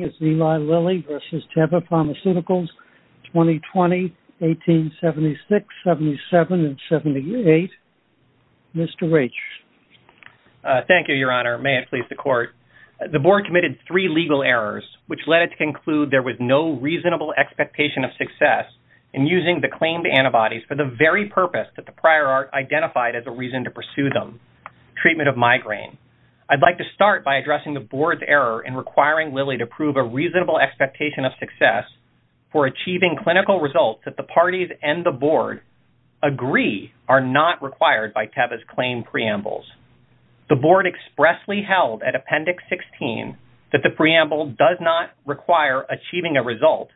Eli Lilly v. Teva Pharmaceuticals, 2020, 1876, 77, and 78. Mr. Rich. Thank you, Your Honor. May it please the Court. The Board committed three legal errors which led it to conclude there was no reasonable expectation of success in using the claimed antibodies for the very purpose that the prior Art identified as a reason to pursue them, treatment of migraine. I'd like to start by reasonable expectation of success for achieving clinical results that the parties and the Board agree are not required by Teva's claimed preambles. The Board expressly held at Appendix 16 that the preamble does not require achieving a result,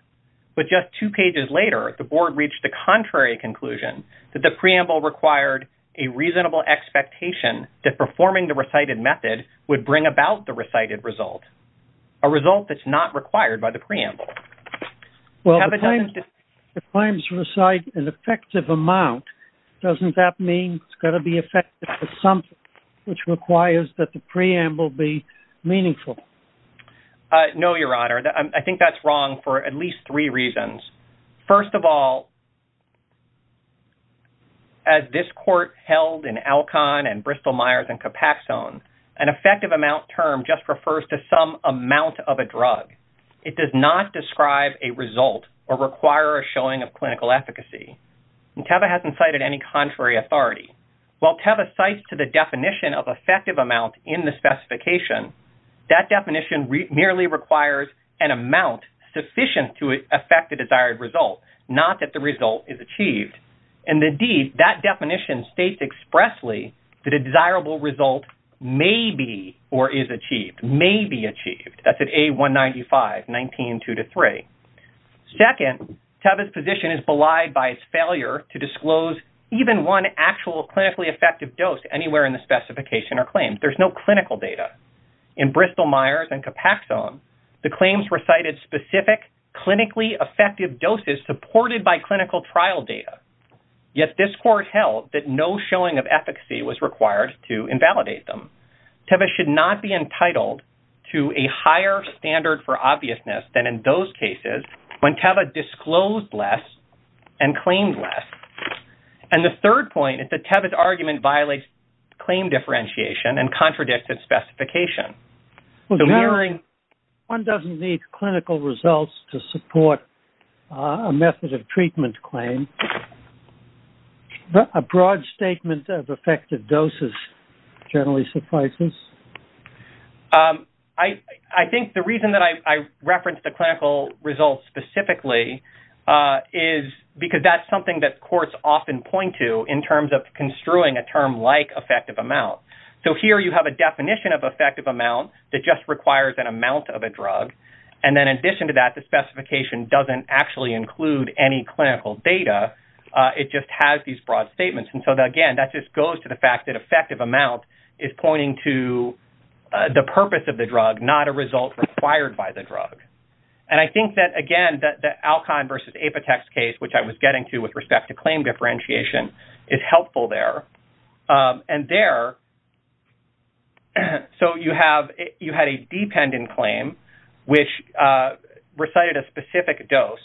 but just two pages later, the Board reached the contrary conclusion that the preamble required a reasonable expectation that performing the recited method would bring about the recited result, a result that's not required by the preamble. Well, if the claims recite an effective amount, doesn't that mean it's going to be effective for something which requires that the preamble be meaningful? No, Your Honor. I think that's wrong for at least three reasons. First of all, as this Court held in Alcon and Bristol-Myers and Copaxone, an effective amount term just refers to some amount of a drug. It does not describe a result or require a showing of clinical efficacy. And Teva hasn't cited any contrary authority. While Teva cites to the definition of effective amount in the specification, that definition merely requires an amount sufficient to affect the desired result, not that the result is achieved. And indeed, that definition states expressly that a desirable result may be or is achieved, may be achieved. That's at A-195, 19-2-3. Second, Teva's position is belied by his failure to disclose even one actual clinically effective dose anywhere in the specification or claim. There's no clinical data. In Bristol-Myers and Copaxone, the claims recited specific clinically effective doses supported by clinical trial data. Yet this Court held that no showing of efficacy was required to invalidate them. Teva should not be entitled to a higher standard for obviousness than in those cases when Teva disclosed less and claimed less. And the third point is that Teva's argument violates claim differentiation and contradicts its specification. So mirroring... One doesn't need clinical results to support a method of treatment claim, but a broad statement of effective doses generally suffices. I think the reason that I referenced the clinical results specifically is because that's something that courts often point to in terms of construing a term like effective amount. So here you have a definition of effective amount that just requires an amount of a drug. And then in addition to that, the specification doesn't actually include any clinical data. It just has these broad statements. And so, again, that just goes to the fact that effective amount is pointing to the purpose of the drug, not a result required by the drug. And I think that, again, the Alcon versus Apotex case, which I was getting to with respect to claim differentiation, is helpful there. And there... You had a dependent claim, which recited a specific dose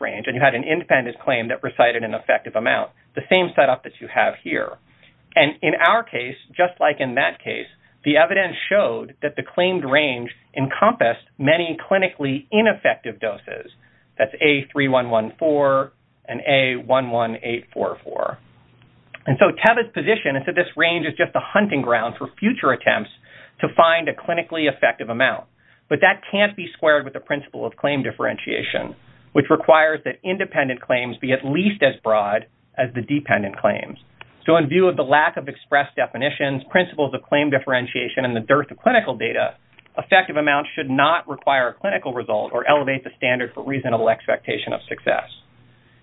range, and you had an independent claim that recited an effective amount, the same setup that you have here. And in our case, just like in that case, the evidence showed that the claimed range encompassed many clinically ineffective doses. That's A3114 and A11844. And so Teva's position is that this range is just a hunting ground for future attempts to find a clinically effective amount. But that can't be squared with the principle of claim differentiation, which requires that independent claims be at least as broad as the dependent claims. So in view of the lack of express definitions, principles of claim differentiation, and the dearth of clinical data, effective amounts should not require a clinical result or elevate the standard for reasonable expectation of success.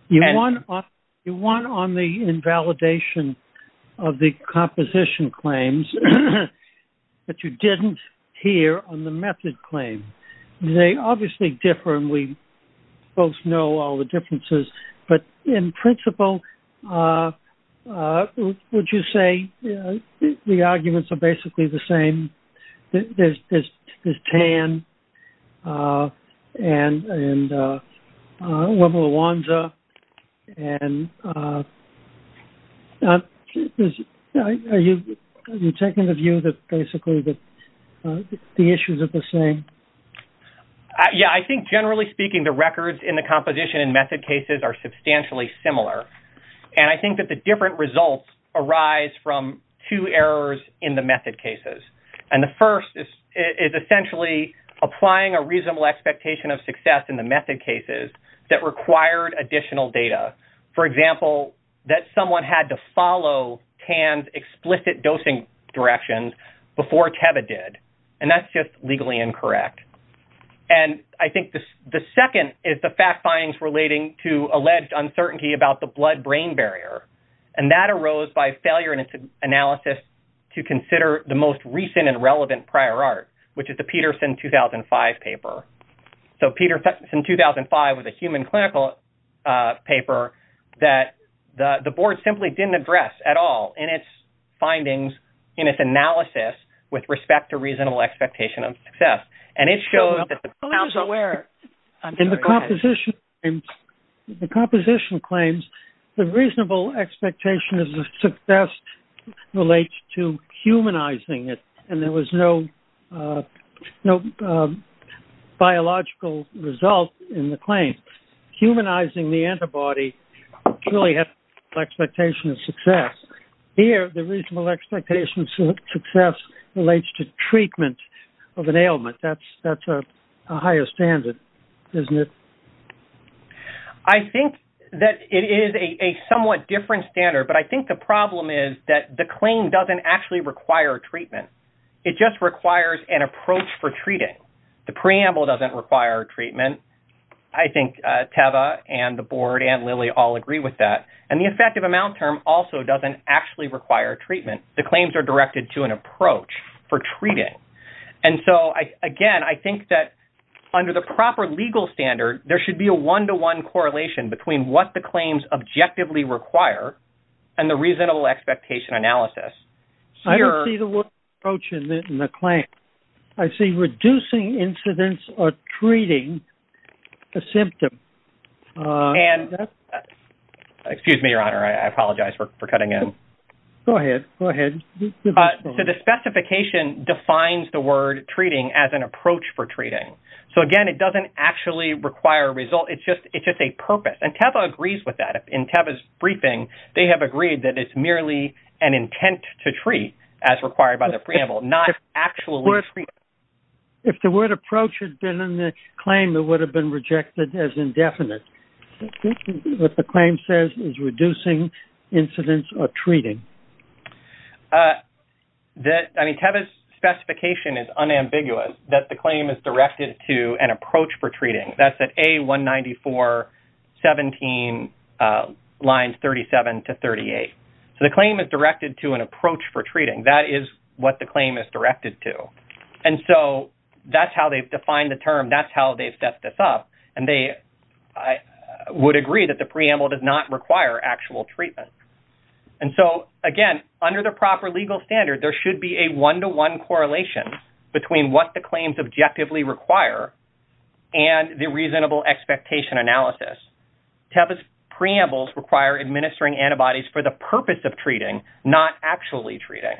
You won on the invalidation of the composition claims, but you didn't hear on the method claim. They obviously differ, and we both know all the differences. But in principle, would you say the arguments are basically the same? There's TAN and level of WANZA. And are you taking the view that basically the issues are the same? Yeah, I think generally speaking, the records in the composition and method cases are substantially similar. And I think that the different results arise from two errors in the method cases. And the first is essentially applying a reasonable expectation of success in the method cases that required additional data. For example, that someone had to follow TAN's explicit dosing directions before Teva did. And that's just legally incorrect. And I think the second is the fact findings relating to alleged uncertainty about the blood-brain barrier. And that arose by recent and relevant prior art, which is the Peterson 2005 paper. So Peterson 2005 was a human clinical paper that the board simply didn't address at all in its findings, in its analysis with respect to reasonable expectation of success. And it shows that the board is aware. In the composition claims, the reasonable expectation of success relates to humanizing it. And there was no biological result in the claim. Humanizing the antibody really has expectation of success. Here, the reasonable expectation of success relates to treatment of an ailment. That's a higher standard, isn't it? I think that it is a somewhat different standard. But I think the problem is that the claim doesn't actually require treatment. It just requires an approach for treating. The preamble doesn't require treatment. I think Teva and the board and Lilly all agree with that. And the effective amount term also doesn't actually require treatment. The claims are directed to an approach for treating. And so, again, I think that under the proper legal standard, there should be a one-to-one correlation between what the claims objectively require and the reasonable expectation analysis. I don't see the word approach in the claim. I see reducing incidence or treating a symptom. Excuse me, Your Honor. I apologize for cutting in. Go ahead. Go ahead. The specification defines the word treating as an approach for treating. So, again, it doesn't actually require a result. It's just a purpose. And Teva agrees with that. In Teva's briefing, they have agreed that it's merely an intent to treat as required by the preamble, not actually treat. If the word approach had been in the claim, it would have been rejected as indefinite. What the claim says is reducing incidence or treating. I mean, Teva's specification is unambiguous, that the claim is directed to an approach for lines 37 to 38. So the claim is directed to an approach for treating. That is what the claim is directed to. And so that's how they've defined the term. That's how they've set this up. And they would agree that the preamble does not require actual treatment. And so, again, under the proper legal standard, there should be a one-to-one correlation between what the claims objectively require and the reasonable expectation analysis. Teva's preambles require administering antibodies for the purpose of treating, not actually treating.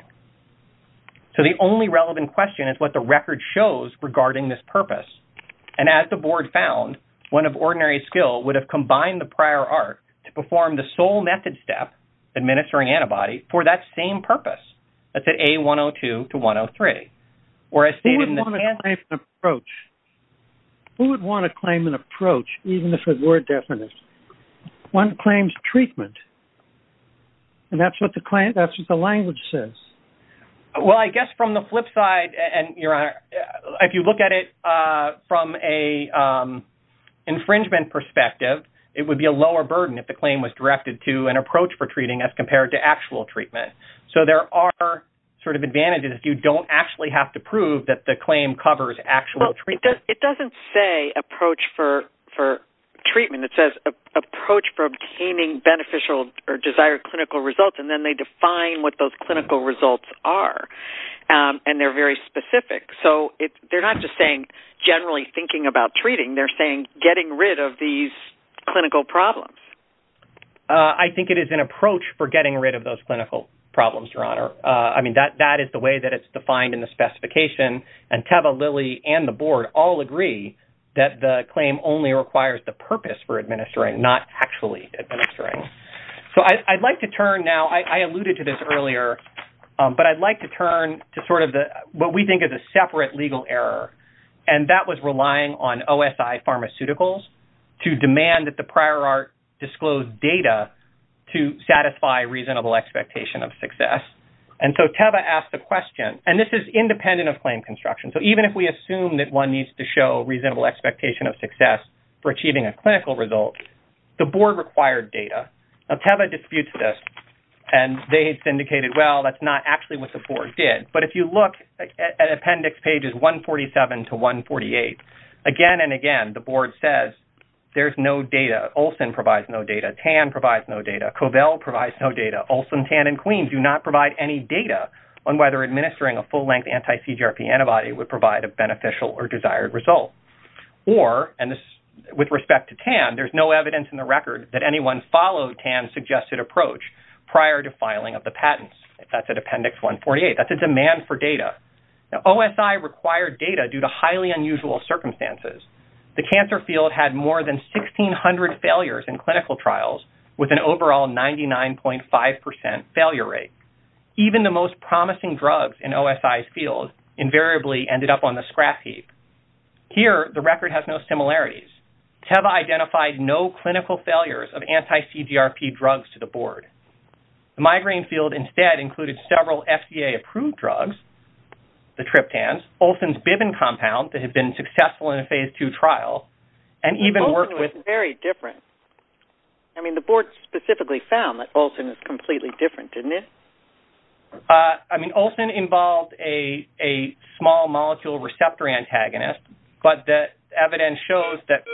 So the only relevant question is what the record shows regarding this purpose. And as the board found, one of ordinary skill would have combined the prior art to perform the sole method step, administering antibodies, for that same purpose. That's at A102 to 103. Or as stated in the… Who would want to claim an approach? Who would want to claim an approach, even if it were definite? One claims treatment. And that's what the claim… That's what the language says. Well, I guess from the flip side, and if you look at it from an infringement perspective, it would be a lower burden if the claim was directed to an approach for treating as compared to actual treatment. So there are sort of advantages. You don't actually have to prove that the claim covers actual treatment. Well, it doesn't say approach for treatment. It says approach for obtaining beneficial or desired clinical results. And then they define what those clinical results are. And they're very specific. So they're not just saying generally thinking about treating. They're saying getting rid of these clinical problems. I think it is an approach for getting rid of those clinical problems, Your Honor. I mean, that is the way that it's defined in the specification. And Teva, Lily, and the Board all agree that the claim only requires the purpose for administering, not actually administering. So I'd like to turn now… I alluded to this earlier, but I'd like to turn to sort of what we think is a separate legal error. And that was relying on OSI pharmaceuticals to demand that the And this is independent of claim construction. So even if we assume that one needs to show reasonable expectation of success for achieving a clinical result, the Board required data. Now, Teva disputes this. And they syndicated, well, that's not actually what the Board did. But if you look at appendix pages 147 to 148, again and again, the Board says, there's no data. Olson provides no data. Tan provides no data. Covell provides no data. Olson, Tan, and Queen do not provide any data on whether administering a full-length anti-CGRP antibody would provide a beneficial or desired result. Or, and with respect to Tan, there's no evidence in the record that anyone followed Tan's suggested approach prior to filing of the patents. That's at appendix 148. That's a demand for data. Now, OSI required data due to highly unusual circumstances. The cancer field had more than failure rate. Even the most promising drugs in OSI's field invariably ended up on the scrap heap. Here, the record has no similarities. Teva identified no clinical failures of anti-CGRP drugs to the Board. The migraine field instead included several FDA-approved drugs, the triptans, Olson's Biven compound that had been successful in a Phase II trial, and even worked with- Olson was very different. I mean, the Board specifically found that Olson was completely different, didn't it? I mean, Olson involved a small molecule receptor antagonist, but the evidence shows that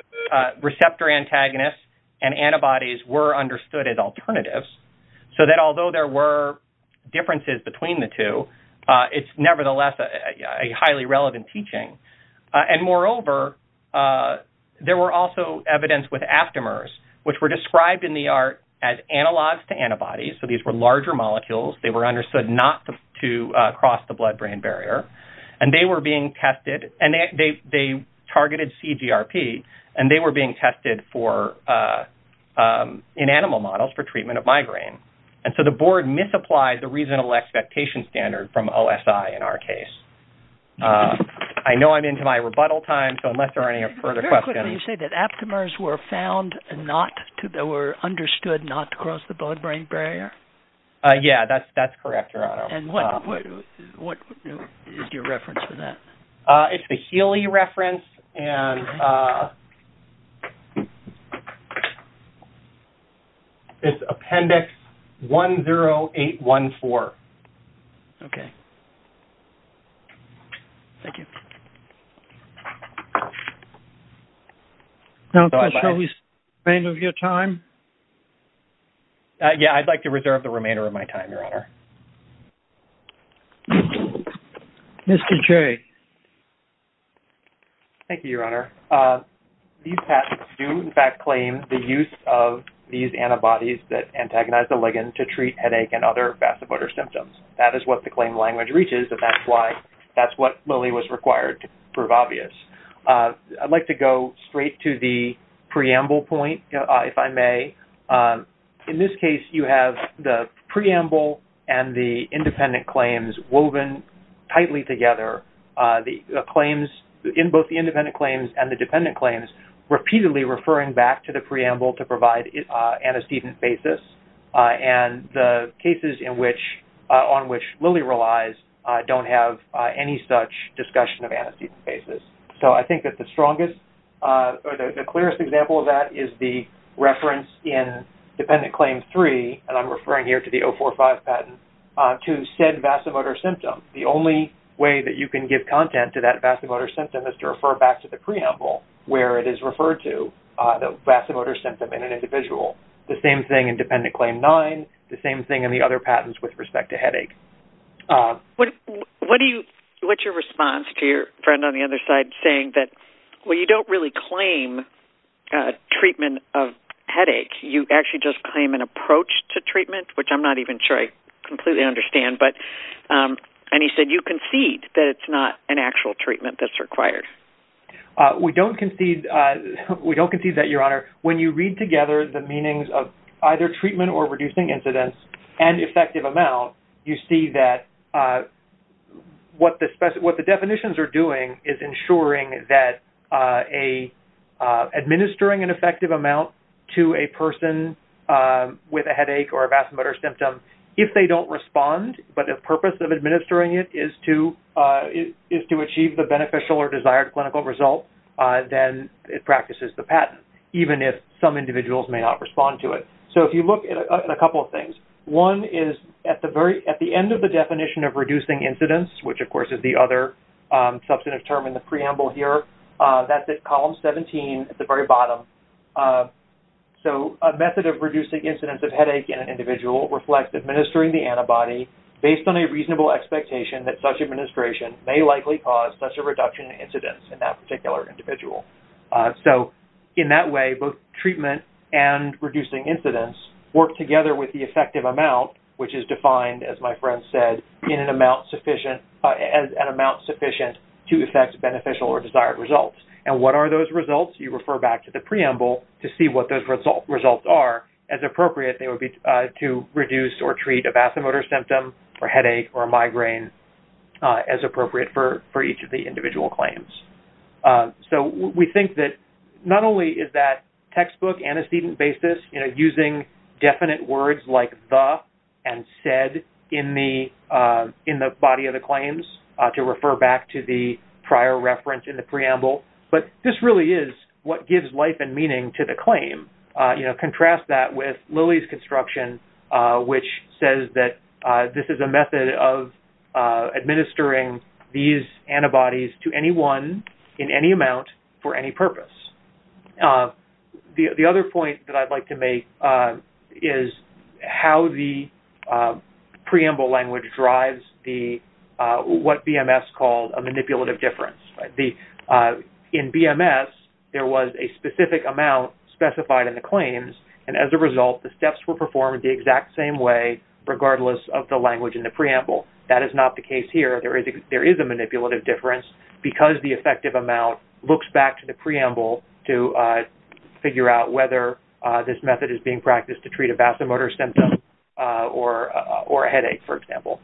receptor antagonists and antibodies were understood as alternatives, so that although there were differences between the two, it's nevertheless a highly relevant teaching. And moreover, there were also evidence with aftemers, which were described in the art as analogs to antibodies. So, these were larger molecules. They were understood not to cross the blood-brain barrier. And they were being tested, and they targeted CGRP, and they were being tested in animal models for treatment of migraine. And so, the Board misapplies the reasonable expectation standard from OSI in our case. I know I'm into my rebuttal time, so unless there are any further questions- Very quickly, you say that aftemers were found not to- they were understood not to cross the blood-brain barrier? Yeah, that's correct, Gerardo. And what is your reference to that? It's the Healy reference, and it's Appendix 10814. Okay. Thank you. Now, can I show the remainder of your time? Yeah, I'd like to reserve the remainder of my time, Your Honor. Mr. Jay. Thank you, Your Honor. These patents do, in fact, claim the use of these antibodies that antagonize the ligand to treat headache and other vasopotor symptoms. That is what the claim language reaches, and that's why- that's what really was required to prove obvious. I'd like go straight to the preamble point, if I may. In this case, you have the preamble and the independent claims woven tightly together. The claims- both the independent claims and the dependent claims repeatedly referring back to the preamble to provide antecedent basis, and the cases on which Lilly relies don't have any such discussion of antecedent basis. So, I think that the strongest or the clearest example of that is the reference in Dependent Claim 3, and I'm referring here to the 045 patent, to said vasomotor symptom. The only way that you can give content to that vasomotor symptom is to refer back to the preamble, where it is referred to, the vasomotor symptom in an individual. The same thing in Dependent Claim 9, the same thing in the other patents with respect to headache. What do you- what's your response to your friend on the other side saying that, well, you don't really claim treatment of headaches, you actually just claim an approach to treatment, which I'm not even sure I completely understand, but- and he said, you concede that it's not an actual treatment that's required. We don't concede- we don't concede that, Your Honor. When you read together the meanings of either treatment or reducing incidence and effective amount, you see that what the definitions are doing is ensuring that administering an effective amount to a person with a headache or a vasomotor symptom, if they don't respond, but the purpose of administering it is to achieve the beneficial or desired clinical result, then it practices the patent, even if some individuals may not respond to it. So, if you look at a couple of things, one is at the end of the definition of reducing incidence, which, of course, is the other substantive term in the preamble here, that's at column 17 at the very bottom. So, a method of reducing incidence of headache in an individual reflects administering the antibody based on a reasonable expectation that such administration may likely cause such a reduction in incidence in that particular individual. So, in that way, both treatment and reducing incidence work together with the effective amount, which is defined, as my friend said, in an amount sufficient- an amount sufficient to affect beneficial or desired results. And what are those results? You refer back to the preamble to see what those results are. As appropriate, they would be to reduce or treat a vasomotor symptom or headache or migraine as appropriate for each of the individual claims. So, we think that not only is that textbook antecedent basis, using definite words like the and said in the body of the claims to refer back to the prior reference in the preamble, but this really is what gives life and meaning to the claim. Contrast that with Lilly's construction, which says that this is a method of administering these antibodies to anyone in any amount for any purpose. The other point that I'd like to make is how the preamble language drives what BMS calls a manipulative difference. In BMS, there was a specific amount specified in the claims, and as a result, the steps were performed the exact same way regardless of the language in the preamble. That is not the case here. There is a manipulative difference because the effective amount looks back to the preamble to figure out whether this method is being practiced to treat a vasomotor symptom or a headache, for example.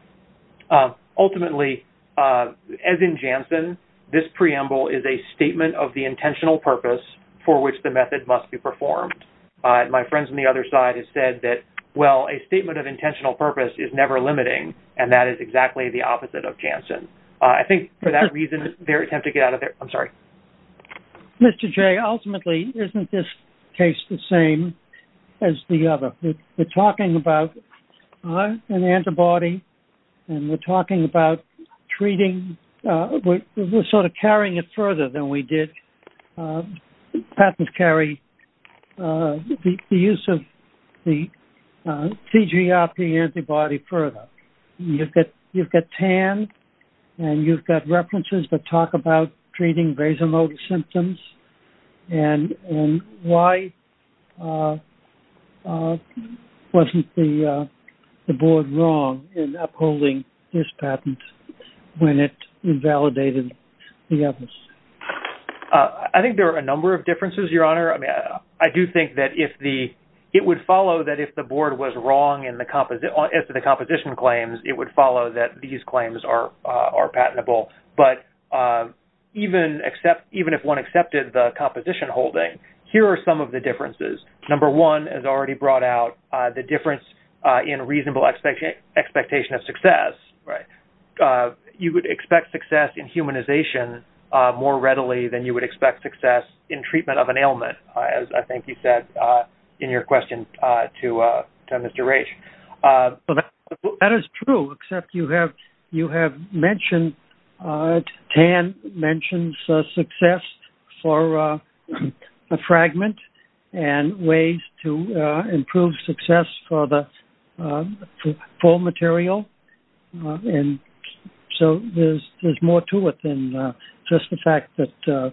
Ultimately, as in Janssen, this preamble is a statement of the intentional purpose for which the method must be performed. My friends on the other side have said that, well, a statement of intentional purpose is never limiting, and that is exactly the opposite of Janssen. I think for that reason, they're attempting to get out of there. I'm sorry. Mr. Jay, ultimately, isn't this case the same as the other? We're talking about an antibody, and we're talking about treating—we're sort of carrying it further than we did. Patents carry the use of the CGRP antibody further. You've got TAN, and you've got references that talk about treating vasomotor symptoms, and why wasn't the board wrong in upholding this patent? When it invalidated the evidence? I think there are a number of differences, Your Honor. I do think that it would follow that if the board was wrong as to the composition claims, it would follow that these claims are patentable. But even if one accepted the composition holding, here are some of the differences. Number one has already brought out the difference in reasonable expectation of success. You would expect success in humanization more readily than you would expect success in treatment of an ailment, as I think you said in your question to Mr. Raich. That is true, except you have mentioned—TAN mentions success for a fragment and ways to improve success for the full material. So there's more to it than just the fact that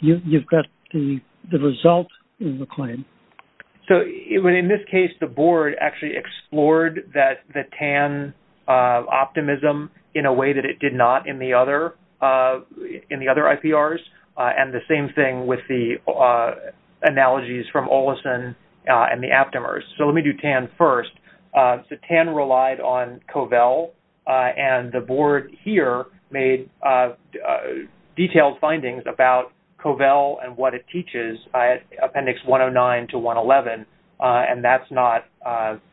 you've got the result in the claim. So in this case, the board actually explored that the TAN optimism in a way that it did not in the other IPRs, and the same thing with the analogies from Olison and the Aptamers. So let me do TAN first. So TAN relied on CoVel, and the board here made detailed findings about CoVel and what it teaches, Appendix 109 to 111, and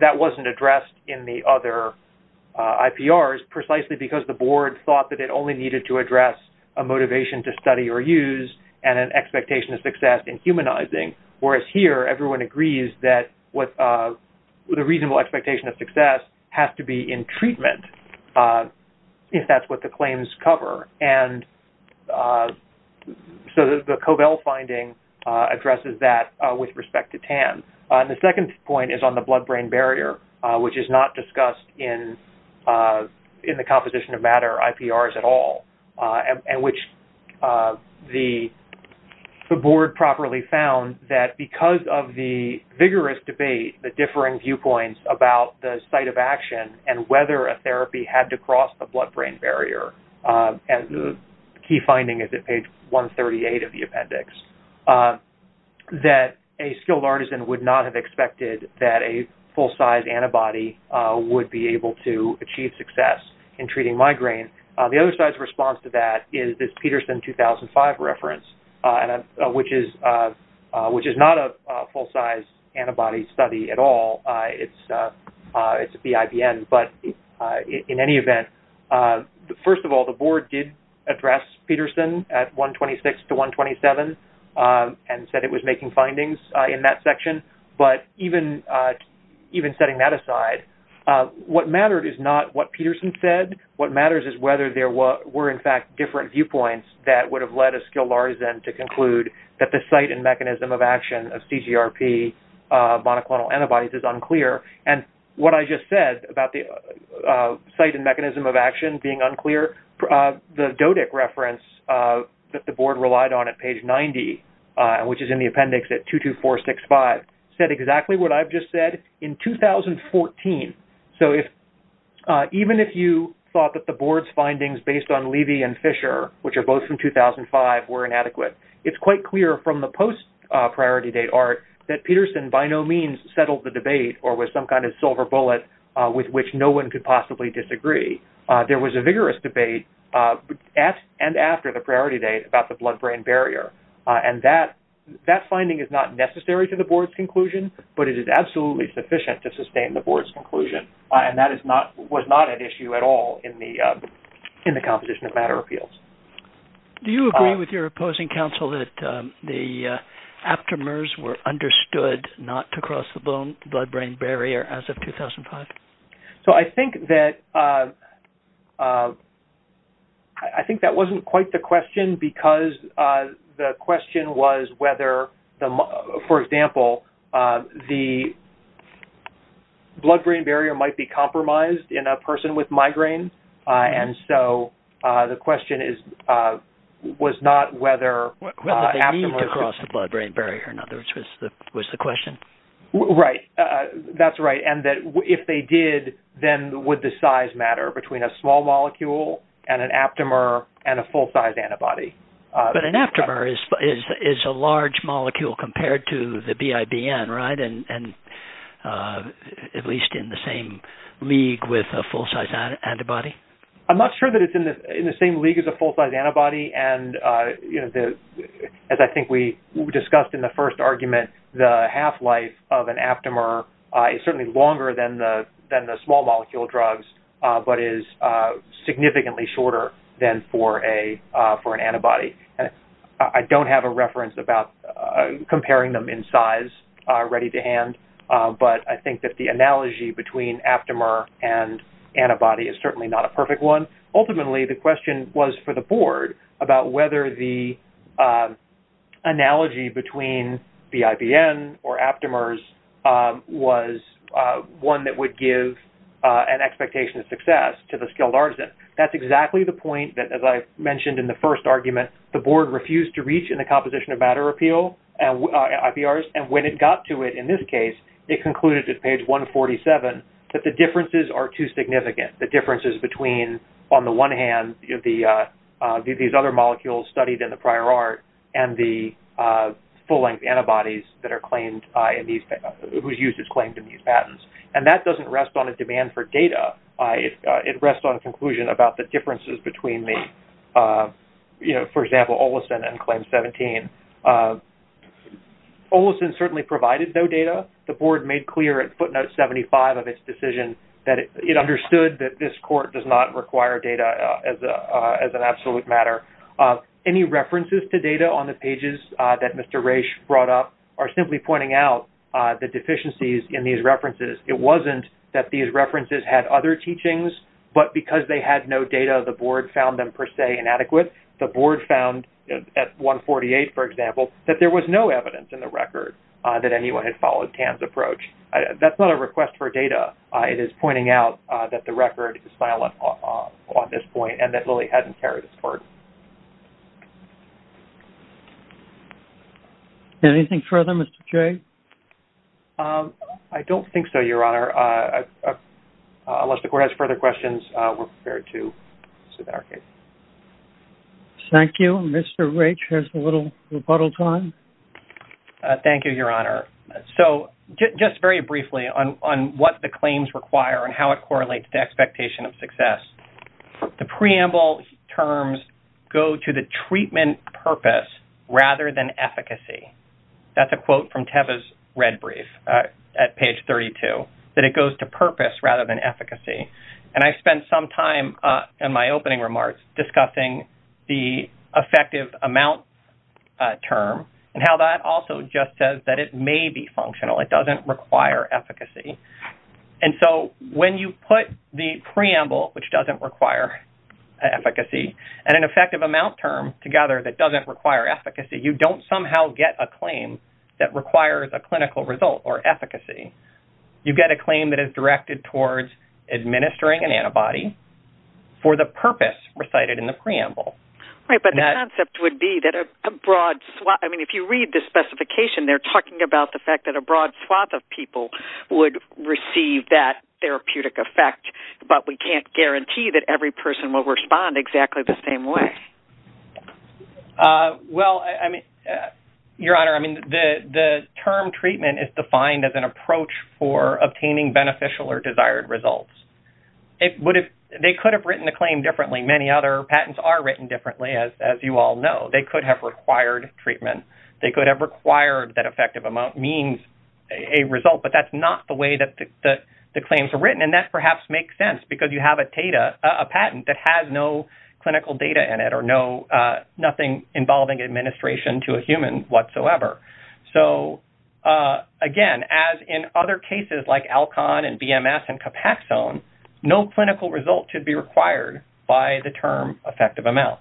that wasn't addressed in the other IPRs precisely because the board thought that it only needed to address a motivation to study or use and an expectation of success in humanizing, whereas here everyone agrees that the reasonable expectation of success has to be in treatment if that's what the claims cover. So the CoVel finding addresses that with respect to TAN. The second point is on the blood-brain barrier, which is not discussed in the Composition of Matter IPRs at all, and which the board properly found that because of the vigorous debate, the differing viewpoints about the site of action and whether a therapy had to cross the blood-brain barrier, and the key finding is at page 138 of would be able to achieve success in treating migraine. The other side's response to that is this Peterson 2005 reference, which is not a full-size antibody study at all. It's a BIBN, but in any event, first of all, the board did address Peterson at 126 to 127 and said it was findings in that section, but even setting that aside, what mattered is not what Peterson said. What matters is whether there were, in fact, different viewpoints that would have led us to Larsen to conclude that the site and mechanism of action of CGRP monoclonal antibodies is unclear, and what I just said about the site and mechanism of action being unclear, the DOTIC reference that the board relied on at page 90, which is in the appendix at 22465, said exactly what I've just said in 2014. So even if you thought that the board's findings based on Levy and Fisher, which are both from 2005, were inadequate, it's quite clear from the post-priority date art that Peterson by no means settled the debate or was some kind of silver bullet with which no one could possibly disagree. There was a vigorous debate at and after the priority date about the blood-brain barrier, and that finding is not necessary to the board's conclusion, but it is absolutely sufficient to sustain the board's conclusion, and that was not an issue at all in the composition of matter appeals. Do you agree with your opposing counsel that the aptamers were understood not to cross the blood-brain barrier as of 2005? So I think that wasn't quite the question, because the question was whether-for example, the blood-brain barrier might be compromised in a person with migraine, and so the question was not whether aptamers- Whether they need to cross the blood-brain barrier, in other words, was the question. Right, that's right, and that if they did, then would the size matter between a small molecule and an aptamer and a full-size antibody? But an aptamer is a large molecule compared to the BIBN, right, and at least in the same league with a full-size antibody? I'm not sure that it's in the same league as a full-size antibody, and as I think we discussed in the first argument, the half-life of an aptamer is certainly longer than the small molecule drugs, but is significantly shorter than for an antibody. I don't have a reference about comparing them in size ready to hand, but I think that the analogy between aptamer and antibody is certainly not a perfect one. Ultimately, the question was for the board about whether the analogy between the IBN or aptamers was one that would give an expectation of success to the skilled artisan. That's exactly the point that, as I mentioned in the first argument, the board refused to reach in the composition of matter appeal and IPRs, and when it got to it in this case, it concluded at page 147 that the differences are too significant. The differences between, on the one hand, these other molecules studied in the prior art and the full-length antibodies that are claimed in these- who's used as claimed in these patents, and that doesn't rest on a demand for data. It rests on a conclusion about the differences between the, you know, for example, Olison and CLAIM-17. Olison certainly provided no data. The board made clear at footnote 75 of its decision that it understood that this court does not require data as an absolute matter. Any references to data on the pages that Mr. Raich brought up are simply pointing out the deficiencies in these references. It wasn't that these references had other teachings, but because they had no data, the board found them, per se, inadequate. The board found at 148, for example, that there was no evidence in the record that anyone had followed TAM's approach. That's not a request for data. It is pointing out that the record is silent on this point and that Lilly hadn't carried this court. Anything further, Mr. Jay? I don't think so, Your Honor. Unless the court has further questions, we're prepared to submit our case. Thank you. Mr. Raich has a little rebuttal time. Thank you, Your Honor. So just very briefly on what the claims require and how it correlates to expectation of success. The preamble terms go to the treatment purpose rather than efficacy. That's a quote from Teva's red brief at page 32, that it goes to purpose rather than efficacy. And I spent some time in my opening remarks discussing the effective amount term and how that also just says that it may be functional. It doesn't require efficacy. And so when you put the preamble, which doesn't require efficacy, and an effective amount term together that doesn't require efficacy, you don't somehow get a claim that requires a clinical result or efficacy. You get a claim that is directed towards administering an antibody for the purpose recited in the preamble. Right, but the concept would be that a broad... I mean, if you read the specification, they're talking about the fact that a broad swath of people would receive that therapeutic effect, but we can't guarantee that every person will respond exactly the same way. Well, Your Honor, I mean, the term treatment is defined as an approach for obtaining beneficial or desired results. They could have written the claim differently. Many other patents are written differently, as you all know. They could have required treatment. They could have required that effective amount means a result, but that's not the way that the claims are written. And that perhaps makes sense because you have a patent that has no clinical data in it or nothing involving administration to a human whatsoever. So, again, as in other cases like Alcon and BMS and Capaxone, no clinical result should be required by the term effective amount.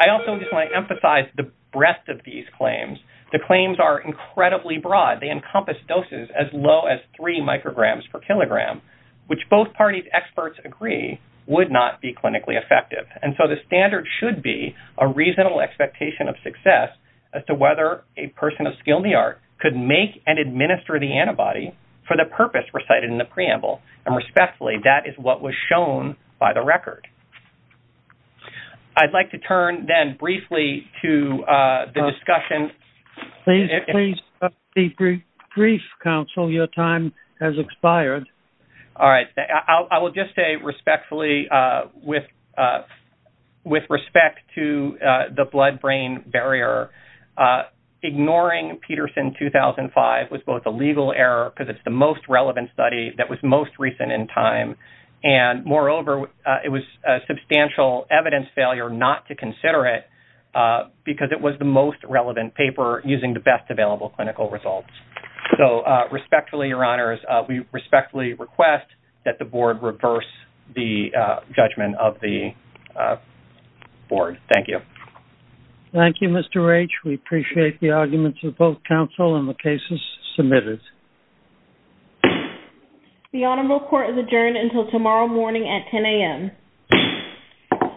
I also just want to emphasize the breadth of these claims. The claims are incredibly broad. They encompass doses as low as three micrograms per kilogram, which both parties' experts agree would not be clinically effective. And so the standard should be a reasonable expectation of success as to whether a person of skill in the art could make and administer the antibody for the purpose recited in the preamble. And respectfully, that is what was shown by the record. I'd like to turn then briefly to the discussion. Please be brief, counsel. Your time has expired. All right. I will just say respectfully, with respect to the blood-brain barrier, ignoring Peterson 2005 was both a legal error because it's the most relevant study that was most recent in time. And moreover, it was a substantial evidence failure not to consider it because it was the most relevant paper using the best available clinical results. So respectfully, your honors, we respectfully request that the board reverse the judgment of the board. Thank you. Thank you, Mr. Raich. We appreciate the arguments of both counsel and the cases submitted. The honorable court is adjourned until tomorrow morning at 10 a.m.